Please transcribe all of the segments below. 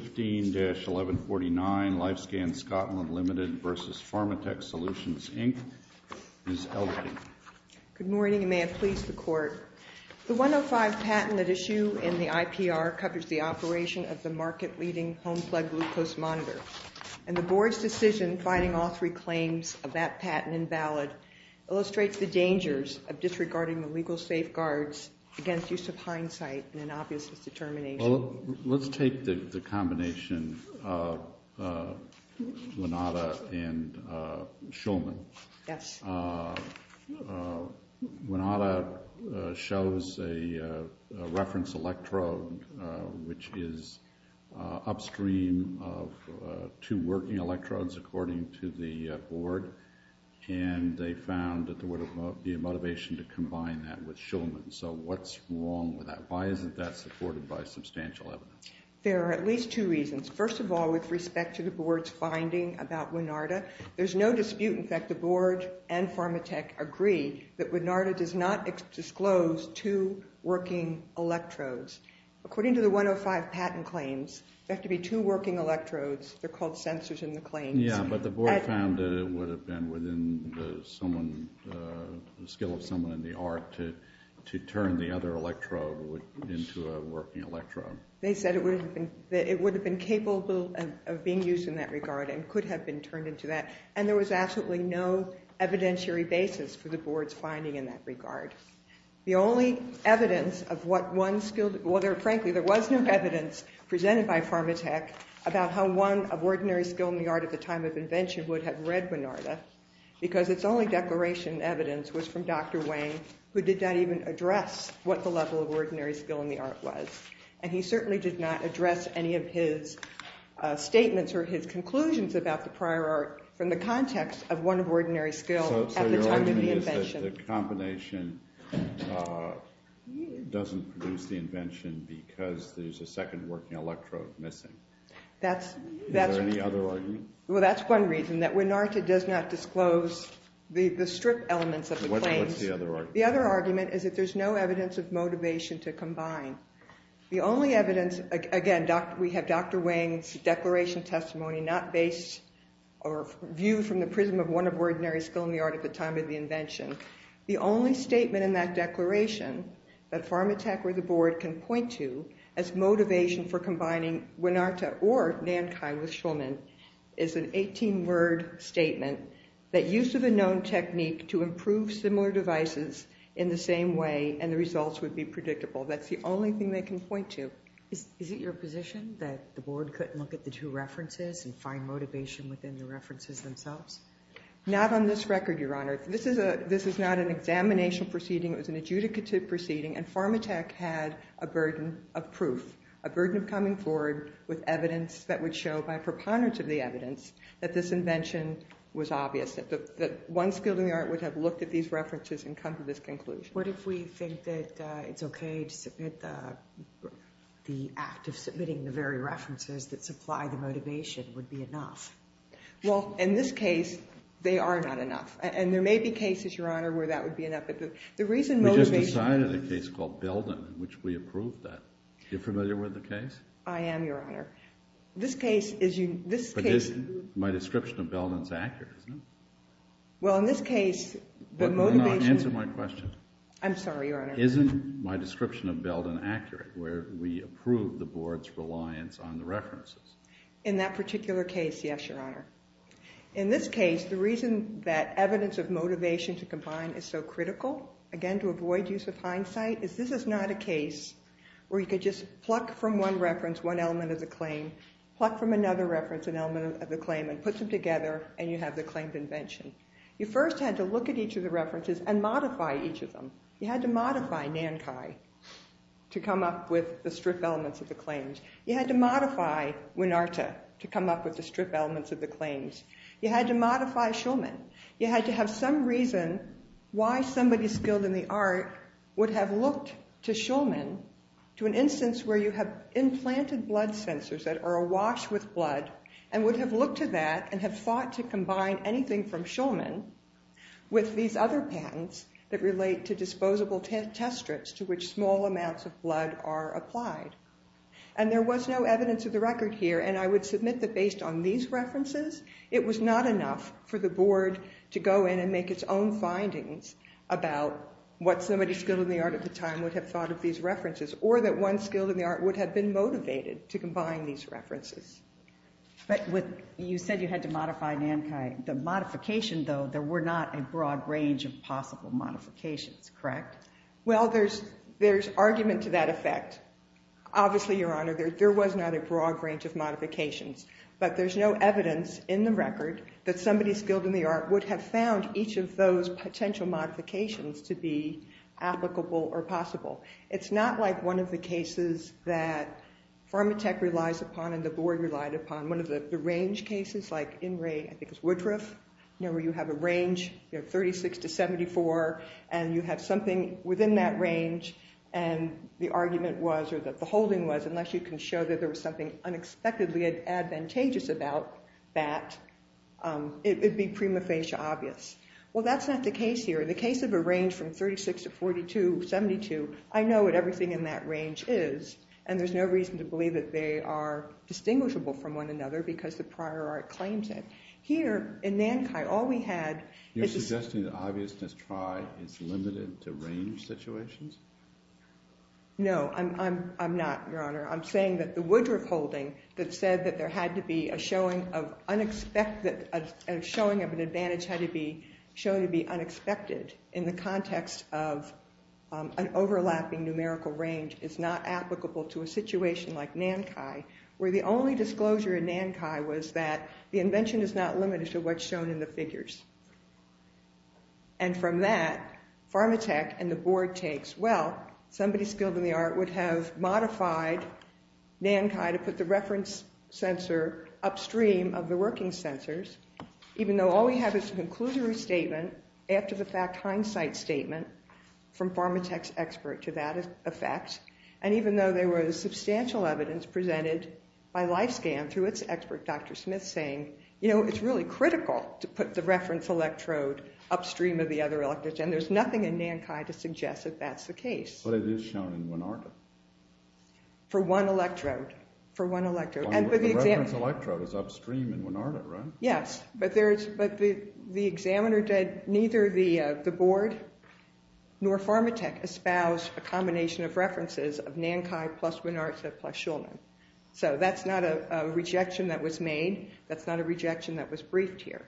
Good morning and may it please the Court. The 105 patent at issue in the IPR covers the operation of the market-leading home plug glucose monitor, and the Board's decision finding all three claims of that patent invalid illustrates the dangers of disregarding the legal safeguards against use of hindsight and an obvious misdetermination. Well, let's take the combination of Winata and Shulman. Yes. Winata shows a reference electrode which is upstream of two working electrodes, according to the Board, and they found that there would be a motivation to combine that with Shulman. So what's wrong with that? Why isn't that supported by substantial evidence? There are at least two reasons. First of all, with respect to the Board's finding about Winata, there's no dispute. In fact, the Board and Pharmatech agree that Winata does not disclose two working electrodes. According to the 105 patent claims, there have to be two working electrodes. They're called sensors in the claims. Yes, but the Board found that it would have been within the skill of someone in the art to turn the other electrode into a working electrode. They said it would have been capable of being used in that regard and could have been turned into that, and there was absolutely no evidentiary basis for the Board's finding in that regard. The only evidence of what one skilled—well, frankly, there was no evidence presented by Pharmatech about how one of ordinary skill in the art at the time of invention would have read Winata, because its only declaration of evidence was from Dr. Wayne, who did not even address what the level of ordinary skill in the art was. And he certainly did not address any of his statements or his conclusions about the prior art from the context of one of ordinary skill at the time of the invention. The combination doesn't produce the invention because there's a second working electrode missing. Is there any other argument? Well, that's one reason, that Winata does not disclose the strip elements of the claims. What's the other argument? The other argument is that there's no evidence of motivation to combine. The only evidence—again, we have Dr. Wayne's declaration testimony not based or viewed from the prism of one of ordinary skill in the art at the time of the invention. The only statement in that declaration that Pharmatech or the Board can point to as motivation for combining Winata or Nankai with Schulman is an 18-word statement that use of a known technique to improve similar devices in the same way and the results would be predictable. That's the only thing they can point to. Is it your position that the Board couldn't look at the two references and find motivation within the references themselves? Not on this record, Your Honor. This is not an examination proceeding. It was an adjudicative proceeding, and Pharmatech had a burden of proof, a burden of coming forward with evidence that would show by preponderance of the evidence that this invention was obvious, that one skill in the art would have looked at these references and come to this conclusion. What if we think that it's okay to submit the act of submitting the very references that supply the motivation would be enough? Well, in this case, they are not enough, and there may be cases, Your Honor, where that would be enough, but the reason motivation… We just decided a case called Belden in which we approved that. You're familiar with the case? I am, Your Honor. This case is… But my description of Belden is accurate, isn't it? Well, in this case, the motivation… Answer my question. I'm sorry, Your Honor. Isn't my description of Belden accurate where we approve the Board's reliance on the references? In that particular case, yes, Your Honor. In this case, the reason that evidence of motivation to combine is so critical, again, to avoid use of hindsight, is this is not a case where you could just pluck from one reference one element of the claim, pluck from another reference an element of the claim, and put them together, and you have the claimed invention. You first had to look at each of the references and modify each of them. You had to modify NANCHI to come up with the stripped elements of the claims. You had to modify WINARTA to come up with the stripped elements of the claims. You had to modify SHULMAN. You had to have some reason why somebody skilled in the art would have looked to SHULMAN to an instance where you have implanted blood sensors that are awash with blood and would have looked to that and have thought to combine anything from SHULMAN with these other patents that relate to disposable test strips to which small amounts of blood are applied. And there was no evidence of the record here, and I would submit that based on these references, it was not enough for the board to go in and make its own findings about what somebody skilled in the art at the time would have thought of these references, or that one skilled in the art would have been motivated to combine these references. But you said you had to modify NANCHI. The modification, though, there were not a broad range of possible modifications, correct? Well, there's argument to that effect. Obviously, Your Honor, there was not a broad range of modifications, but there's no evidence in the record that somebody skilled in the art would have found each of those potential modifications to be applicable or possible. It's not like one of the cases that Pharmatech relies upon and the board relied upon, one of the range cases, like in Woodroof, where you have a range of 36 to 74, and you have something within that range, and the argument was, or the holding was, unless you can show that there was something unexpectedly advantageous about that, it would be prima facie obvious. Well, that's not the case here. In the case of a range from 36 to 72, I know what everything in that range is, and there's no reason to believe that they are distinguishable from one another because the prior art claims it. Here, in NANCHI, all we had is this. You're suggesting that obviousness trie is limited to range situations? No, I'm not, Your Honor. I'm saying that the Woodroof holding that said that there had to be a showing of unexpected, a showing of an advantage had to be shown to be unexpected in the context of an overlapping numerical range is not applicable to a situation like NANCHI, where the only disclosure in NANCHI was that the invention is not limited to what's shown in the figures. And from that, Pharmatech and the board takes, well, somebody skilled in the art would have modified NANCHI to put the reference sensor upstream of the working sensors, even though all we have is a conclusory statement after the fact hindsight statement from Pharmatech's expert to that effect. And even though there was substantial evidence presented by LifeScan through its expert, Dr. Smith, saying, you know, it's really critical to put the reference electrode upstream of the other electrodes, and there's nothing in NANCHI to suggest that that's the case. But it is shown in Winarda. For one electrode. For one electrode. The reference electrode is upstream in Winarda, right? Yes, but the examiner did neither the board nor Pharmatech espouse a combination of references of NANCHI plus Winarda plus Shulman. So that's not a rejection that was made. That's not a rejection that was briefed here.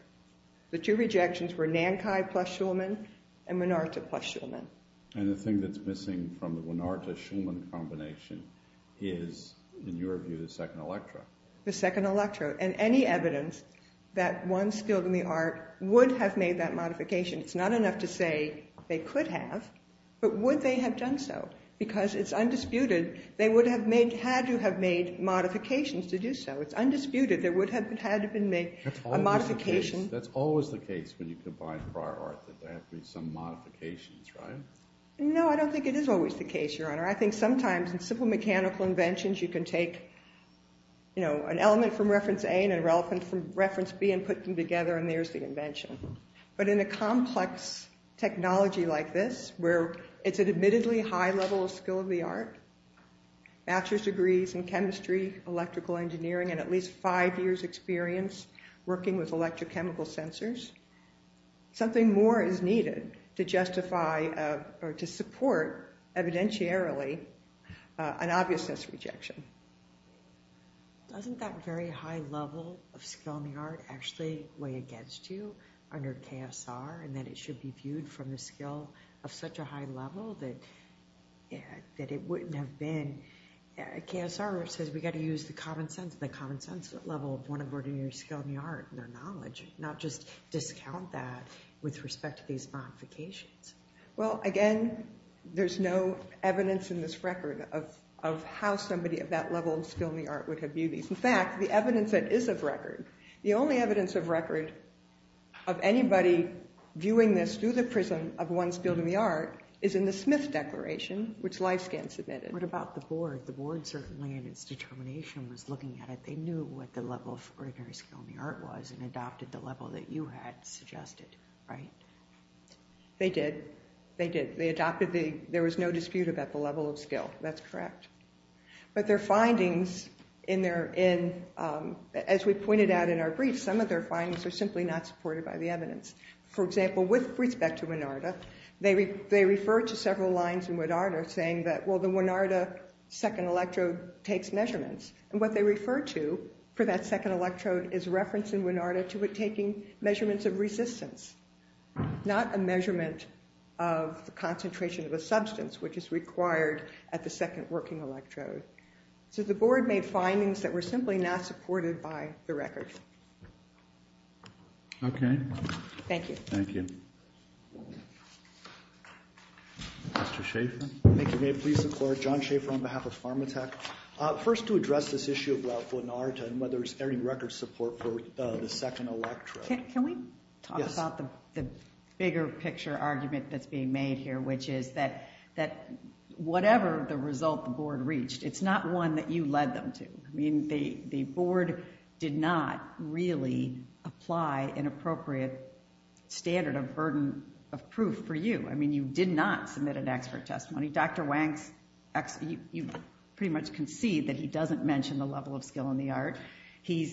The two rejections were NANCHI plus Shulman and Winarda plus Shulman. And the thing that's missing from the Winarda-Shulman combination is, in your view, the second electrode. The second electrode. And any evidence that one skilled in the art would have made that modification. It's not enough to say they could have, but would they have done so? Because it's undisputed they would have had to have made modifications to do so. It's undisputed there would have had to have been made a modification. That's always the case when you combine prior art, that there have to be some modifications, right? No, I don't think it is always the case, Your Honor. I think sometimes in simple mechanical inventions you can take, you know, an element from reference A and an element from reference B and put them together and there's the invention. But in a complex technology like this, where it's an admittedly high level of skill of the art, bachelor's degrees in chemistry, electrical engineering, and at least five years experience working with electrochemical sensors, something more is needed to justify or to support evidentiarily an obviousness rejection. Doesn't that very high level of skill in the art actually weigh against you under KSR and that it should be viewed from the skill of such a high level that it wouldn't have been? KSR says we've got to use the common sense, the common sense level of one of ordinary skill in the art and their knowledge, not just discount that with respect to these modifications. Well, again, there's no evidence in this record of how somebody of that level of skill in the art would have viewed these. In fact, the evidence that is of record, the only evidence of record of anybody viewing this through the prism of one's skill in the art is in the Smith Declaration, which LifeScan submitted. What about the board? The board certainly in its determination was looking at it. They knew what the level of ordinary skill in the art was and adopted the level that you had suggested, right? They did. They did. They adopted the – there was no dispute about the level of skill. That's correct. But their findings in their – as we pointed out in our brief, some of their findings are simply not supported by the evidence. For example, with respect to Winarda, they refer to several lines in Winarda saying that, well, the Winarda second electrode takes measurements. And what they refer to for that second electrode is reference in Winarda to it taking measurements of resistance, not a measurement of the concentration of a substance, which is required at the second working electrode. So the board made findings that were simply not supported by the record. Okay. Thank you. Thank you. Thank you. Mr. Schaffer. Thank you, Dave. Please support John Schaffer on behalf of Pharmatech. First, to address this issue of Ralph Winarda and whether there's any record support for the second electrode. Can we talk about the bigger picture argument that's being made here, which is that whatever the result the board reached, it's not one that you led them to. I mean, the board did not really apply an appropriate standard of burden of proof for you. I mean, you did not submit an expert testimony. Dr. Wang, you pretty much concede that he doesn't mention the level of skill in the art. His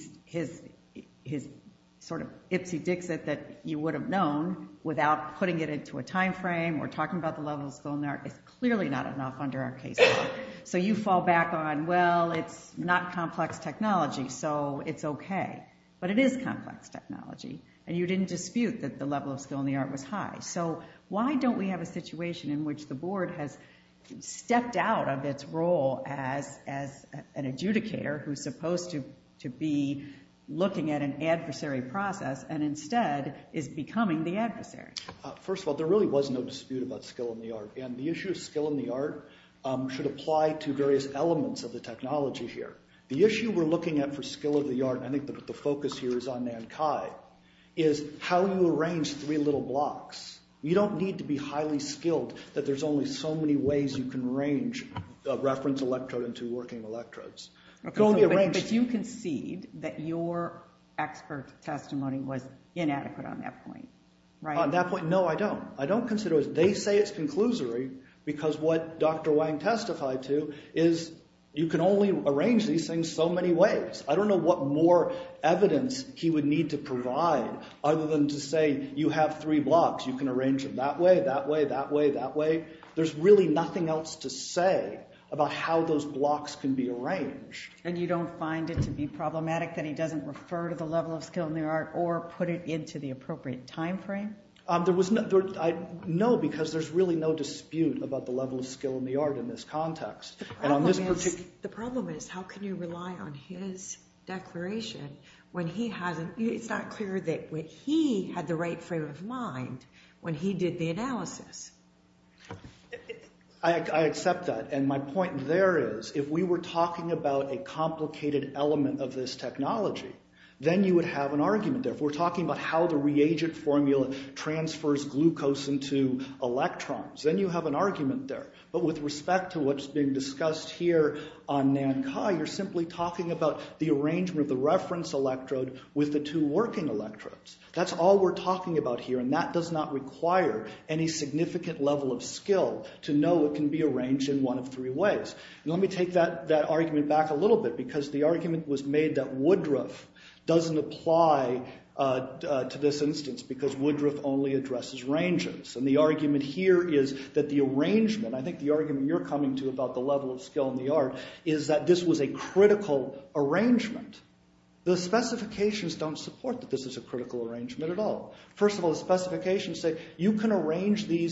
sort of ipsy dixit that you would have known without putting it into a time frame or talking about the level of skill in the art is clearly not enough under our case law. So you fall back on, well, it's not complex technology, so it's okay. But it is complex technology. And you didn't dispute that the level of skill in the art was high. So why don't we have a situation in which the board has stepped out of its role as an adjudicator who's supposed to be looking at an adversary process and instead is becoming the adversary? First of all, there really was no dispute about skill in the art. And the issue of skill in the art should apply to various elements of the technology here. The issue we're looking at for skill of the art, and I think the focus here is on Nankai, is how you arrange three little blocks. You don't need to be highly skilled that there's only so many ways you can arrange a reference electrode into working electrodes. But you concede that your expert testimony was inadequate on that point, right? On that point, no, I don't. I don't consider it. They say it's conclusory because what Dr. Wang testified to is you can only arrange these things so many ways. I don't know what more evidence he would need to provide other than to say you have three blocks. You can arrange them that way, that way, that way, that way. There's really nothing else to say about how those blocks can be arranged. And you don't find it to be problematic that he doesn't refer to the level of skill in the art or put it into the appropriate time frame? No, because there's really no dispute about the level of skill in the art in this context. The problem is how can you rely on his declaration when he hasn't? It's not clear that he had the right frame of mind when he did the analysis. I accept that. And my point there is if we were talking about a complicated element of this technology, then you would have an argument. If we're talking about how the reagent formula transfers glucose into electrons, then you have an argument there. But with respect to what's being discussed here on Nankai, you're simply talking about the arrangement of the reference electrode with the two working electrodes. That's all we're talking about here, and that does not require any significant level of skill to know it can be arranged in one of three ways. Let me take that argument back a little bit because the argument was made that Woodruff doesn't apply to this instance because Woodruff only addresses rangers. And the argument here is that the arrangement, I think the argument you're coming to about the level of skill in the art, is that this was a critical arrangement. The specifications don't support that this is a critical arrangement at all. First of all, the specifications say you can arrange the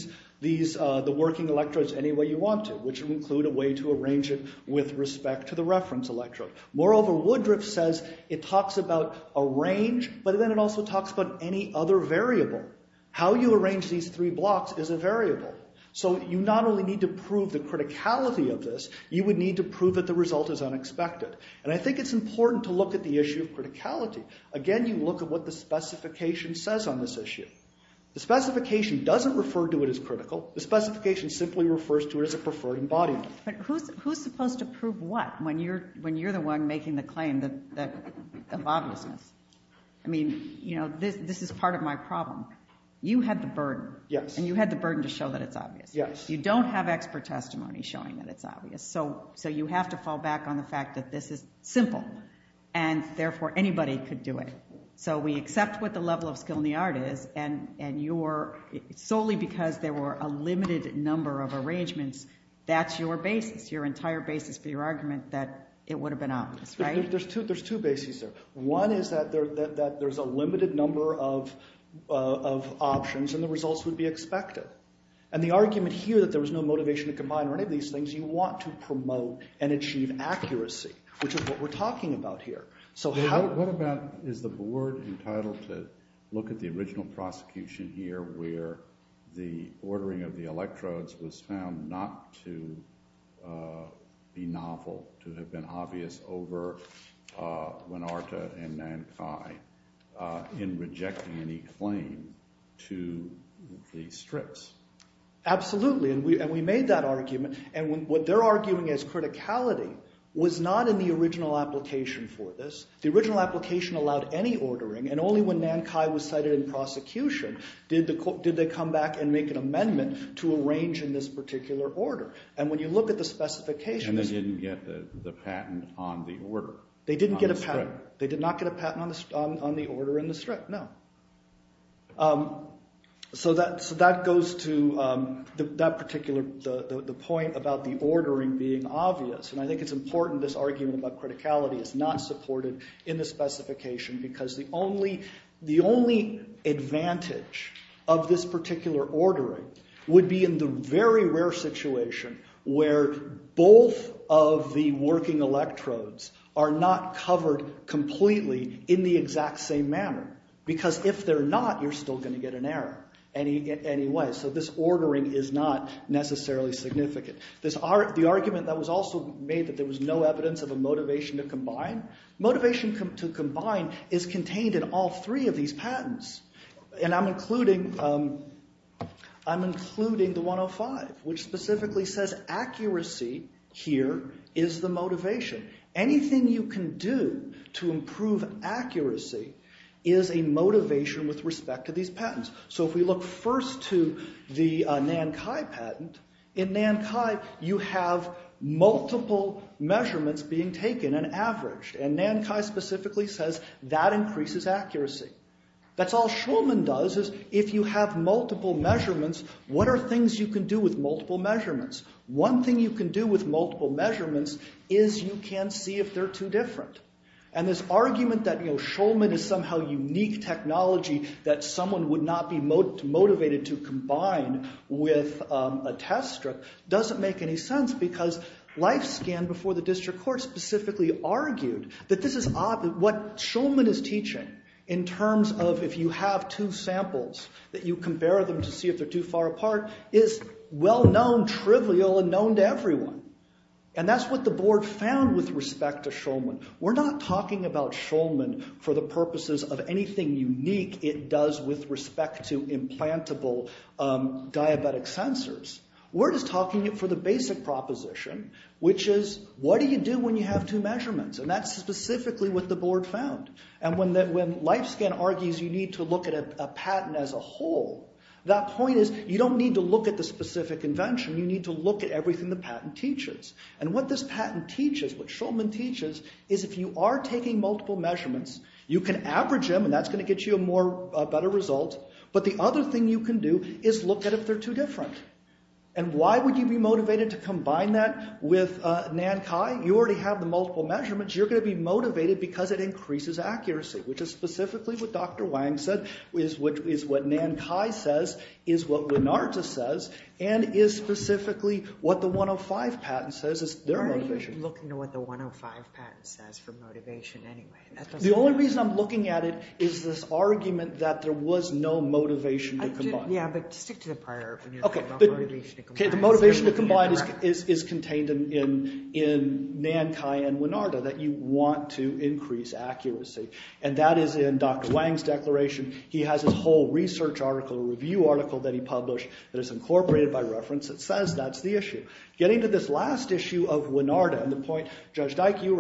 working electrodes any way you want to, which would include a way to arrange it with respect to the reference electrode. Moreover, Woodruff says it talks about a range, but then it also talks about any other variable. How you arrange these three blocks is a variable. So you not only need to prove the criticality of this, you would need to prove that the result is unexpected. And I think it's important to look at the issue of criticality. Again, you look at what the specification says on this issue. The specification doesn't refer to it as critical. The specification simply refers to it as a preferred embodiment. But who's supposed to prove what when you're the one making the claim of obviousness? I mean, you know, this is part of my problem. You had the burden, and you had the burden to show that it's obvious. You don't have expert testimony showing that it's obvious. So you have to fall back on the fact that this is simple, and therefore anybody could do it. So we accept what the level of skill in the art is, and solely because there were a limited number of arrangements, that's your basis, your entire basis for your argument, that it would have been obvious, right? There's two bases there. One is that there's a limited number of options, and the results would be expected. And the argument here that there was no motivation to combine or any of these things, you want to promote and achieve accuracy, which is what we're talking about here. What about is the board entitled to look at the original prosecution here where the ordering of the electrodes was found not to be novel, to have been obvious over Winarta and Nankai in rejecting any claim to the strips? And what they're arguing as criticality was not in the original application for this. The original application allowed any ordering, and only when Nankai was cited in prosecution did they come back and make an amendment to arrange in this particular order. And when you look at the specifications… And they didn't get the patent on the order, on the strip. They did not get a patent on the order and the strip, no. So that goes to that particular point about the ordering being obvious. And I think it's important this argument about criticality is not supported in the specification because the only advantage of this particular ordering would be in the very rare situation where both of the working electrodes are not covered completely in the exact same manner. Because if they're not, you're still going to get an error anyway. So this ordering is not necessarily significant. The argument that was also made that there was no evidence of a motivation to combine, motivation to combine is contained in all three of these patents. And I'm including the 105, which specifically says accuracy here is the motivation. Anything you can do to improve accuracy is a motivation with respect to these patents. So if we look first to the Nankai patent, in Nankai you have multiple measurements being taken and averaged. And Nankai specifically says that increases accuracy. That's all Schulman does is if you have multiple measurements, what are things you can do with multiple measurements? One thing you can do with multiple measurements is you can see if they're too different. And this argument that, you know, Schulman is somehow unique technology that someone would not be motivated to combine with a test strip doesn't make any sense because LifeScan before the district court specifically argued that this is odd. What Schulman is teaching in terms of if you have two samples that you compare them to see if they're too far apart is well-known, trivial, and known to everyone. And that's what the board found with respect to Schulman. We're not talking about Schulman for the purposes of anything unique it does with respect to implantable diabetic sensors. We're just talking for the basic proposition, which is what do you do when you have two measurements? And that's specifically what the board found. And when LifeScan argues you need to look at a patent as a whole, that point is you don't need to look at the specific invention. You need to look at everything the patent teaches. And what this patent teaches, what Schulman teaches, is if you are taking multiple measurements, you can average them and that's going to get you a better result. But the other thing you can do is look at if they're too different. And why would you be motivated to combine that with NANCHI? You already have the multiple measurements. You're going to be motivated because it increases accuracy, which is specifically what Dr. Wang said is what NANCHI says is what Winarda says and is specifically what the 105 patent says is their motivation. Why are you looking at what the 105 patent says for motivation anyway? The only reason I'm looking at it is this argument that there was no motivation to combine. Yeah, but stick to the prior when you're talking about motivation to combine. Okay, the motivation to combine is contained in NANCHI and Winarda, that you want to increase accuracy. And that is in Dr. Wang's declaration. He has his whole research article, review article that he published that is incorporated by reference that says that's the issue. Getting to this last issue of Winarda and the point Judge Dyke, you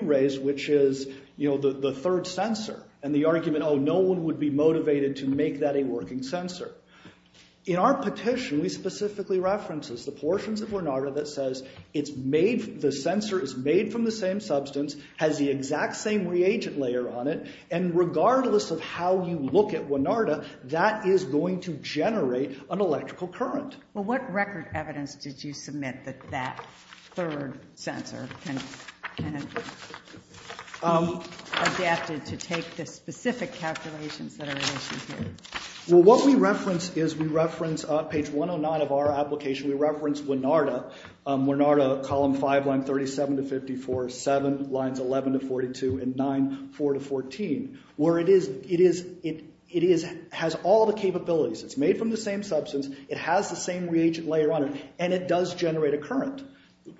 raised, which is the third sensor and the argument, oh, no one would be motivated to make that a working sensor. In our petition, we specifically reference the portions of Winarda that says it's made— and regardless of how you look at Winarda, that is going to generate an electrical current. Well, what record evidence did you submit that that third sensor can be adapted to take the specific calculations that are in issue here? Well, what we reference is we reference page 109 of our application. We reference Winarda, Winarda column 5, line 37 to 54, 7, lines 11 to 42, and 9, 4 to 14, where it has all the capabilities. It's made from the same substance. It has the same reagent layer on it, and it does generate a current.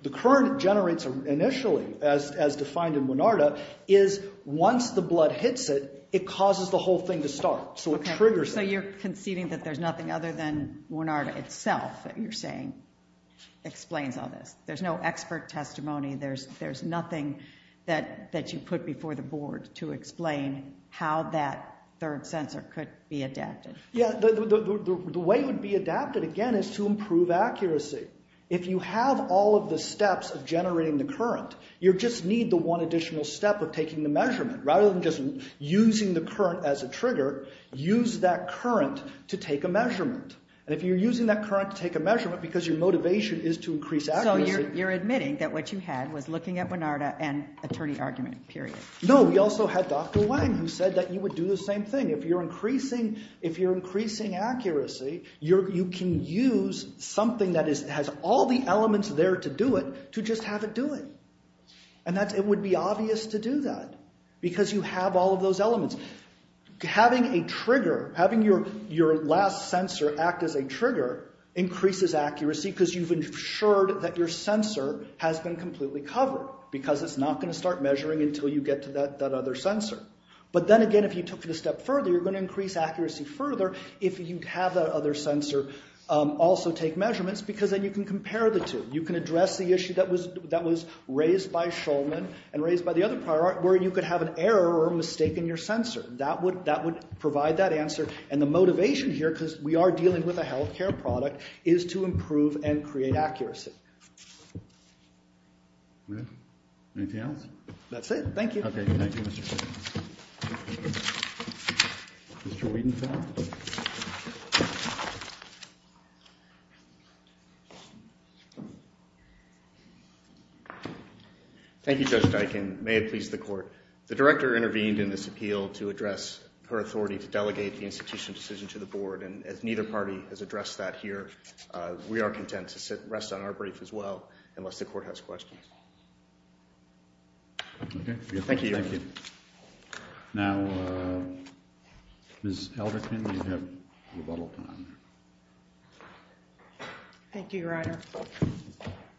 The current it generates initially, as defined in Winarda, is once the blood hits it, it causes the whole thing to start, so it triggers it. So you're conceding that there's nothing other than Winarda itself that you're saying explains all this. There's no expert testimony. There's nothing that you put before the board to explain how that third sensor could be adapted. Yeah, the way it would be adapted, again, is to improve accuracy. If you have all of the steps of generating the current, you just need the one additional step of taking the measurement. Rather than just using the current as a trigger, use that current to take a measurement. And if you're using that current to take a measurement because your motivation is to increase accuracy— So you're admitting that what you had was looking at Winarda and attorney argument, period. No, we also had Dr. Wang who said that you would do the same thing. If you're increasing accuracy, you can use something that has all the elements there to do it to just have it do it. It would be obvious to do that because you have all of those elements. Having your last sensor act as a trigger increases accuracy because you've ensured that your sensor has been completely covered. Because it's not going to start measuring until you get to that other sensor. But then again, if you took it a step further, you're going to increase accuracy further if you have that other sensor also take measurements. Because then you can compare the two. You can address the issue that was raised by Shulman and raised by the other prior art where you could have an error or a mistake in your sensor. That would provide that answer. And the motivation here, because we are dealing with a health care product, is to improve and create accuracy. Anything else? That's it. Thank you. Okay. Thank you, Mr. Wittenfeld. Thank you, Judge Diken. May it please the court. The director intervened in this appeal to address her authority to delegate the institution decision to the board. And as neither party has addressed that here, we are content to sit and rest on our brief as well, unless the court has questions. Okay. Thank you. Thank you. Now, Ms. Elderkin, you have rebuttal time. Thank you, Your Honor.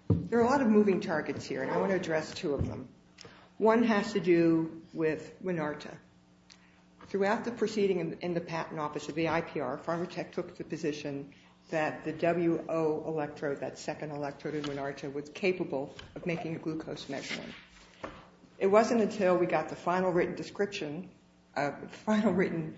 There are a lot of moving targets here, and I want to address two of them. One has to do with Winarta. Throughout the proceeding in the Patent Office of the IPR, Pharmatech took the position that the WO electrode, that second electrode in Winarta, was capable of making a glucose measurement. It wasn't until we got the final written description, final written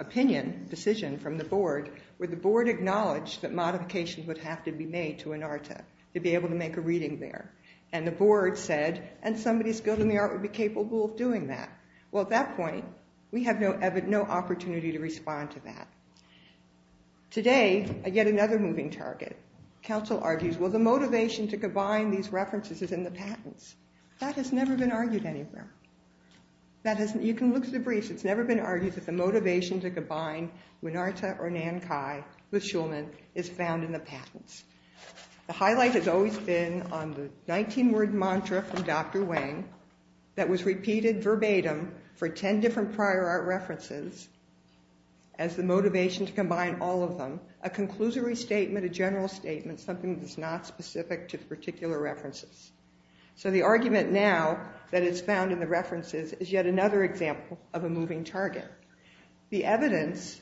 opinion, decision from the board, where the board acknowledged that modifications would have to be made to Winarta to be able to make a reading there. And the board said, and somebody skilled in the art would be capable of doing that. Well, at that point, we have no opportunity to respond to that. Today, I get another moving target. Counsel argues, well, the motivation to combine these references is in the patents. That has never been argued anywhere. You can look at the briefs. It's never been argued that the motivation to combine Winarta or Nankai with Shulman is found in the patents. The highlight has always been on the 19-word mantra from Dr. Wang that was repeated verbatim for 10 different prior art references as the motivation to combine all of them. A conclusory statement, a general statement, something that's not specific to particular references. So the argument now that it's found in the references is yet another example of a moving target. The evidence,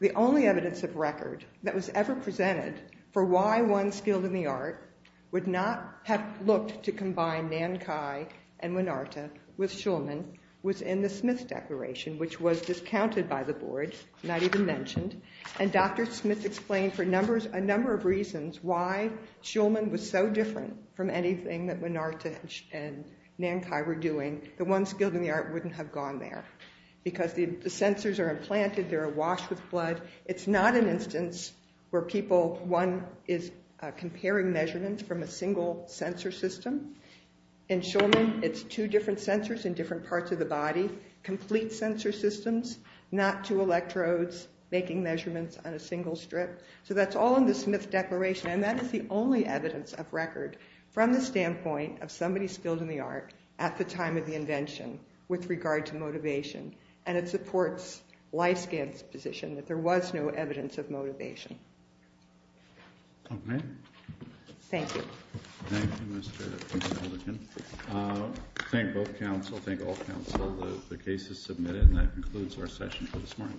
the only evidence of record that was ever presented for why one skilled in the art would not have looked to combine Nankai and Winarta with Shulman was in the Smith Declaration, which was discounted by the board, not even mentioned. And Dr. Smith explained for a number of reasons why Shulman was so different from anything that Winarta and Nankai were doing. The ones skilled in the art wouldn't have gone there because the sensors are implanted. They're washed with blood. It's not an instance where people, one, is comparing measurements from a single sensor system. In Shulman, it's two different sensors in different parts of the body. Complete sensor systems, not two electrodes making measurements on a single strip. So that's all in the Smith Declaration. And that is the only evidence of record from the standpoint of somebody skilled in the art at the time of the invention with regard to motivation. And it supports Lyskant's position that there was no evidence of motivation. Okay. Thank you. Thank you, Mr. Aldegan. Thank both counsel. Thank all counsel. The case is submitted. And that concludes our session for this morning.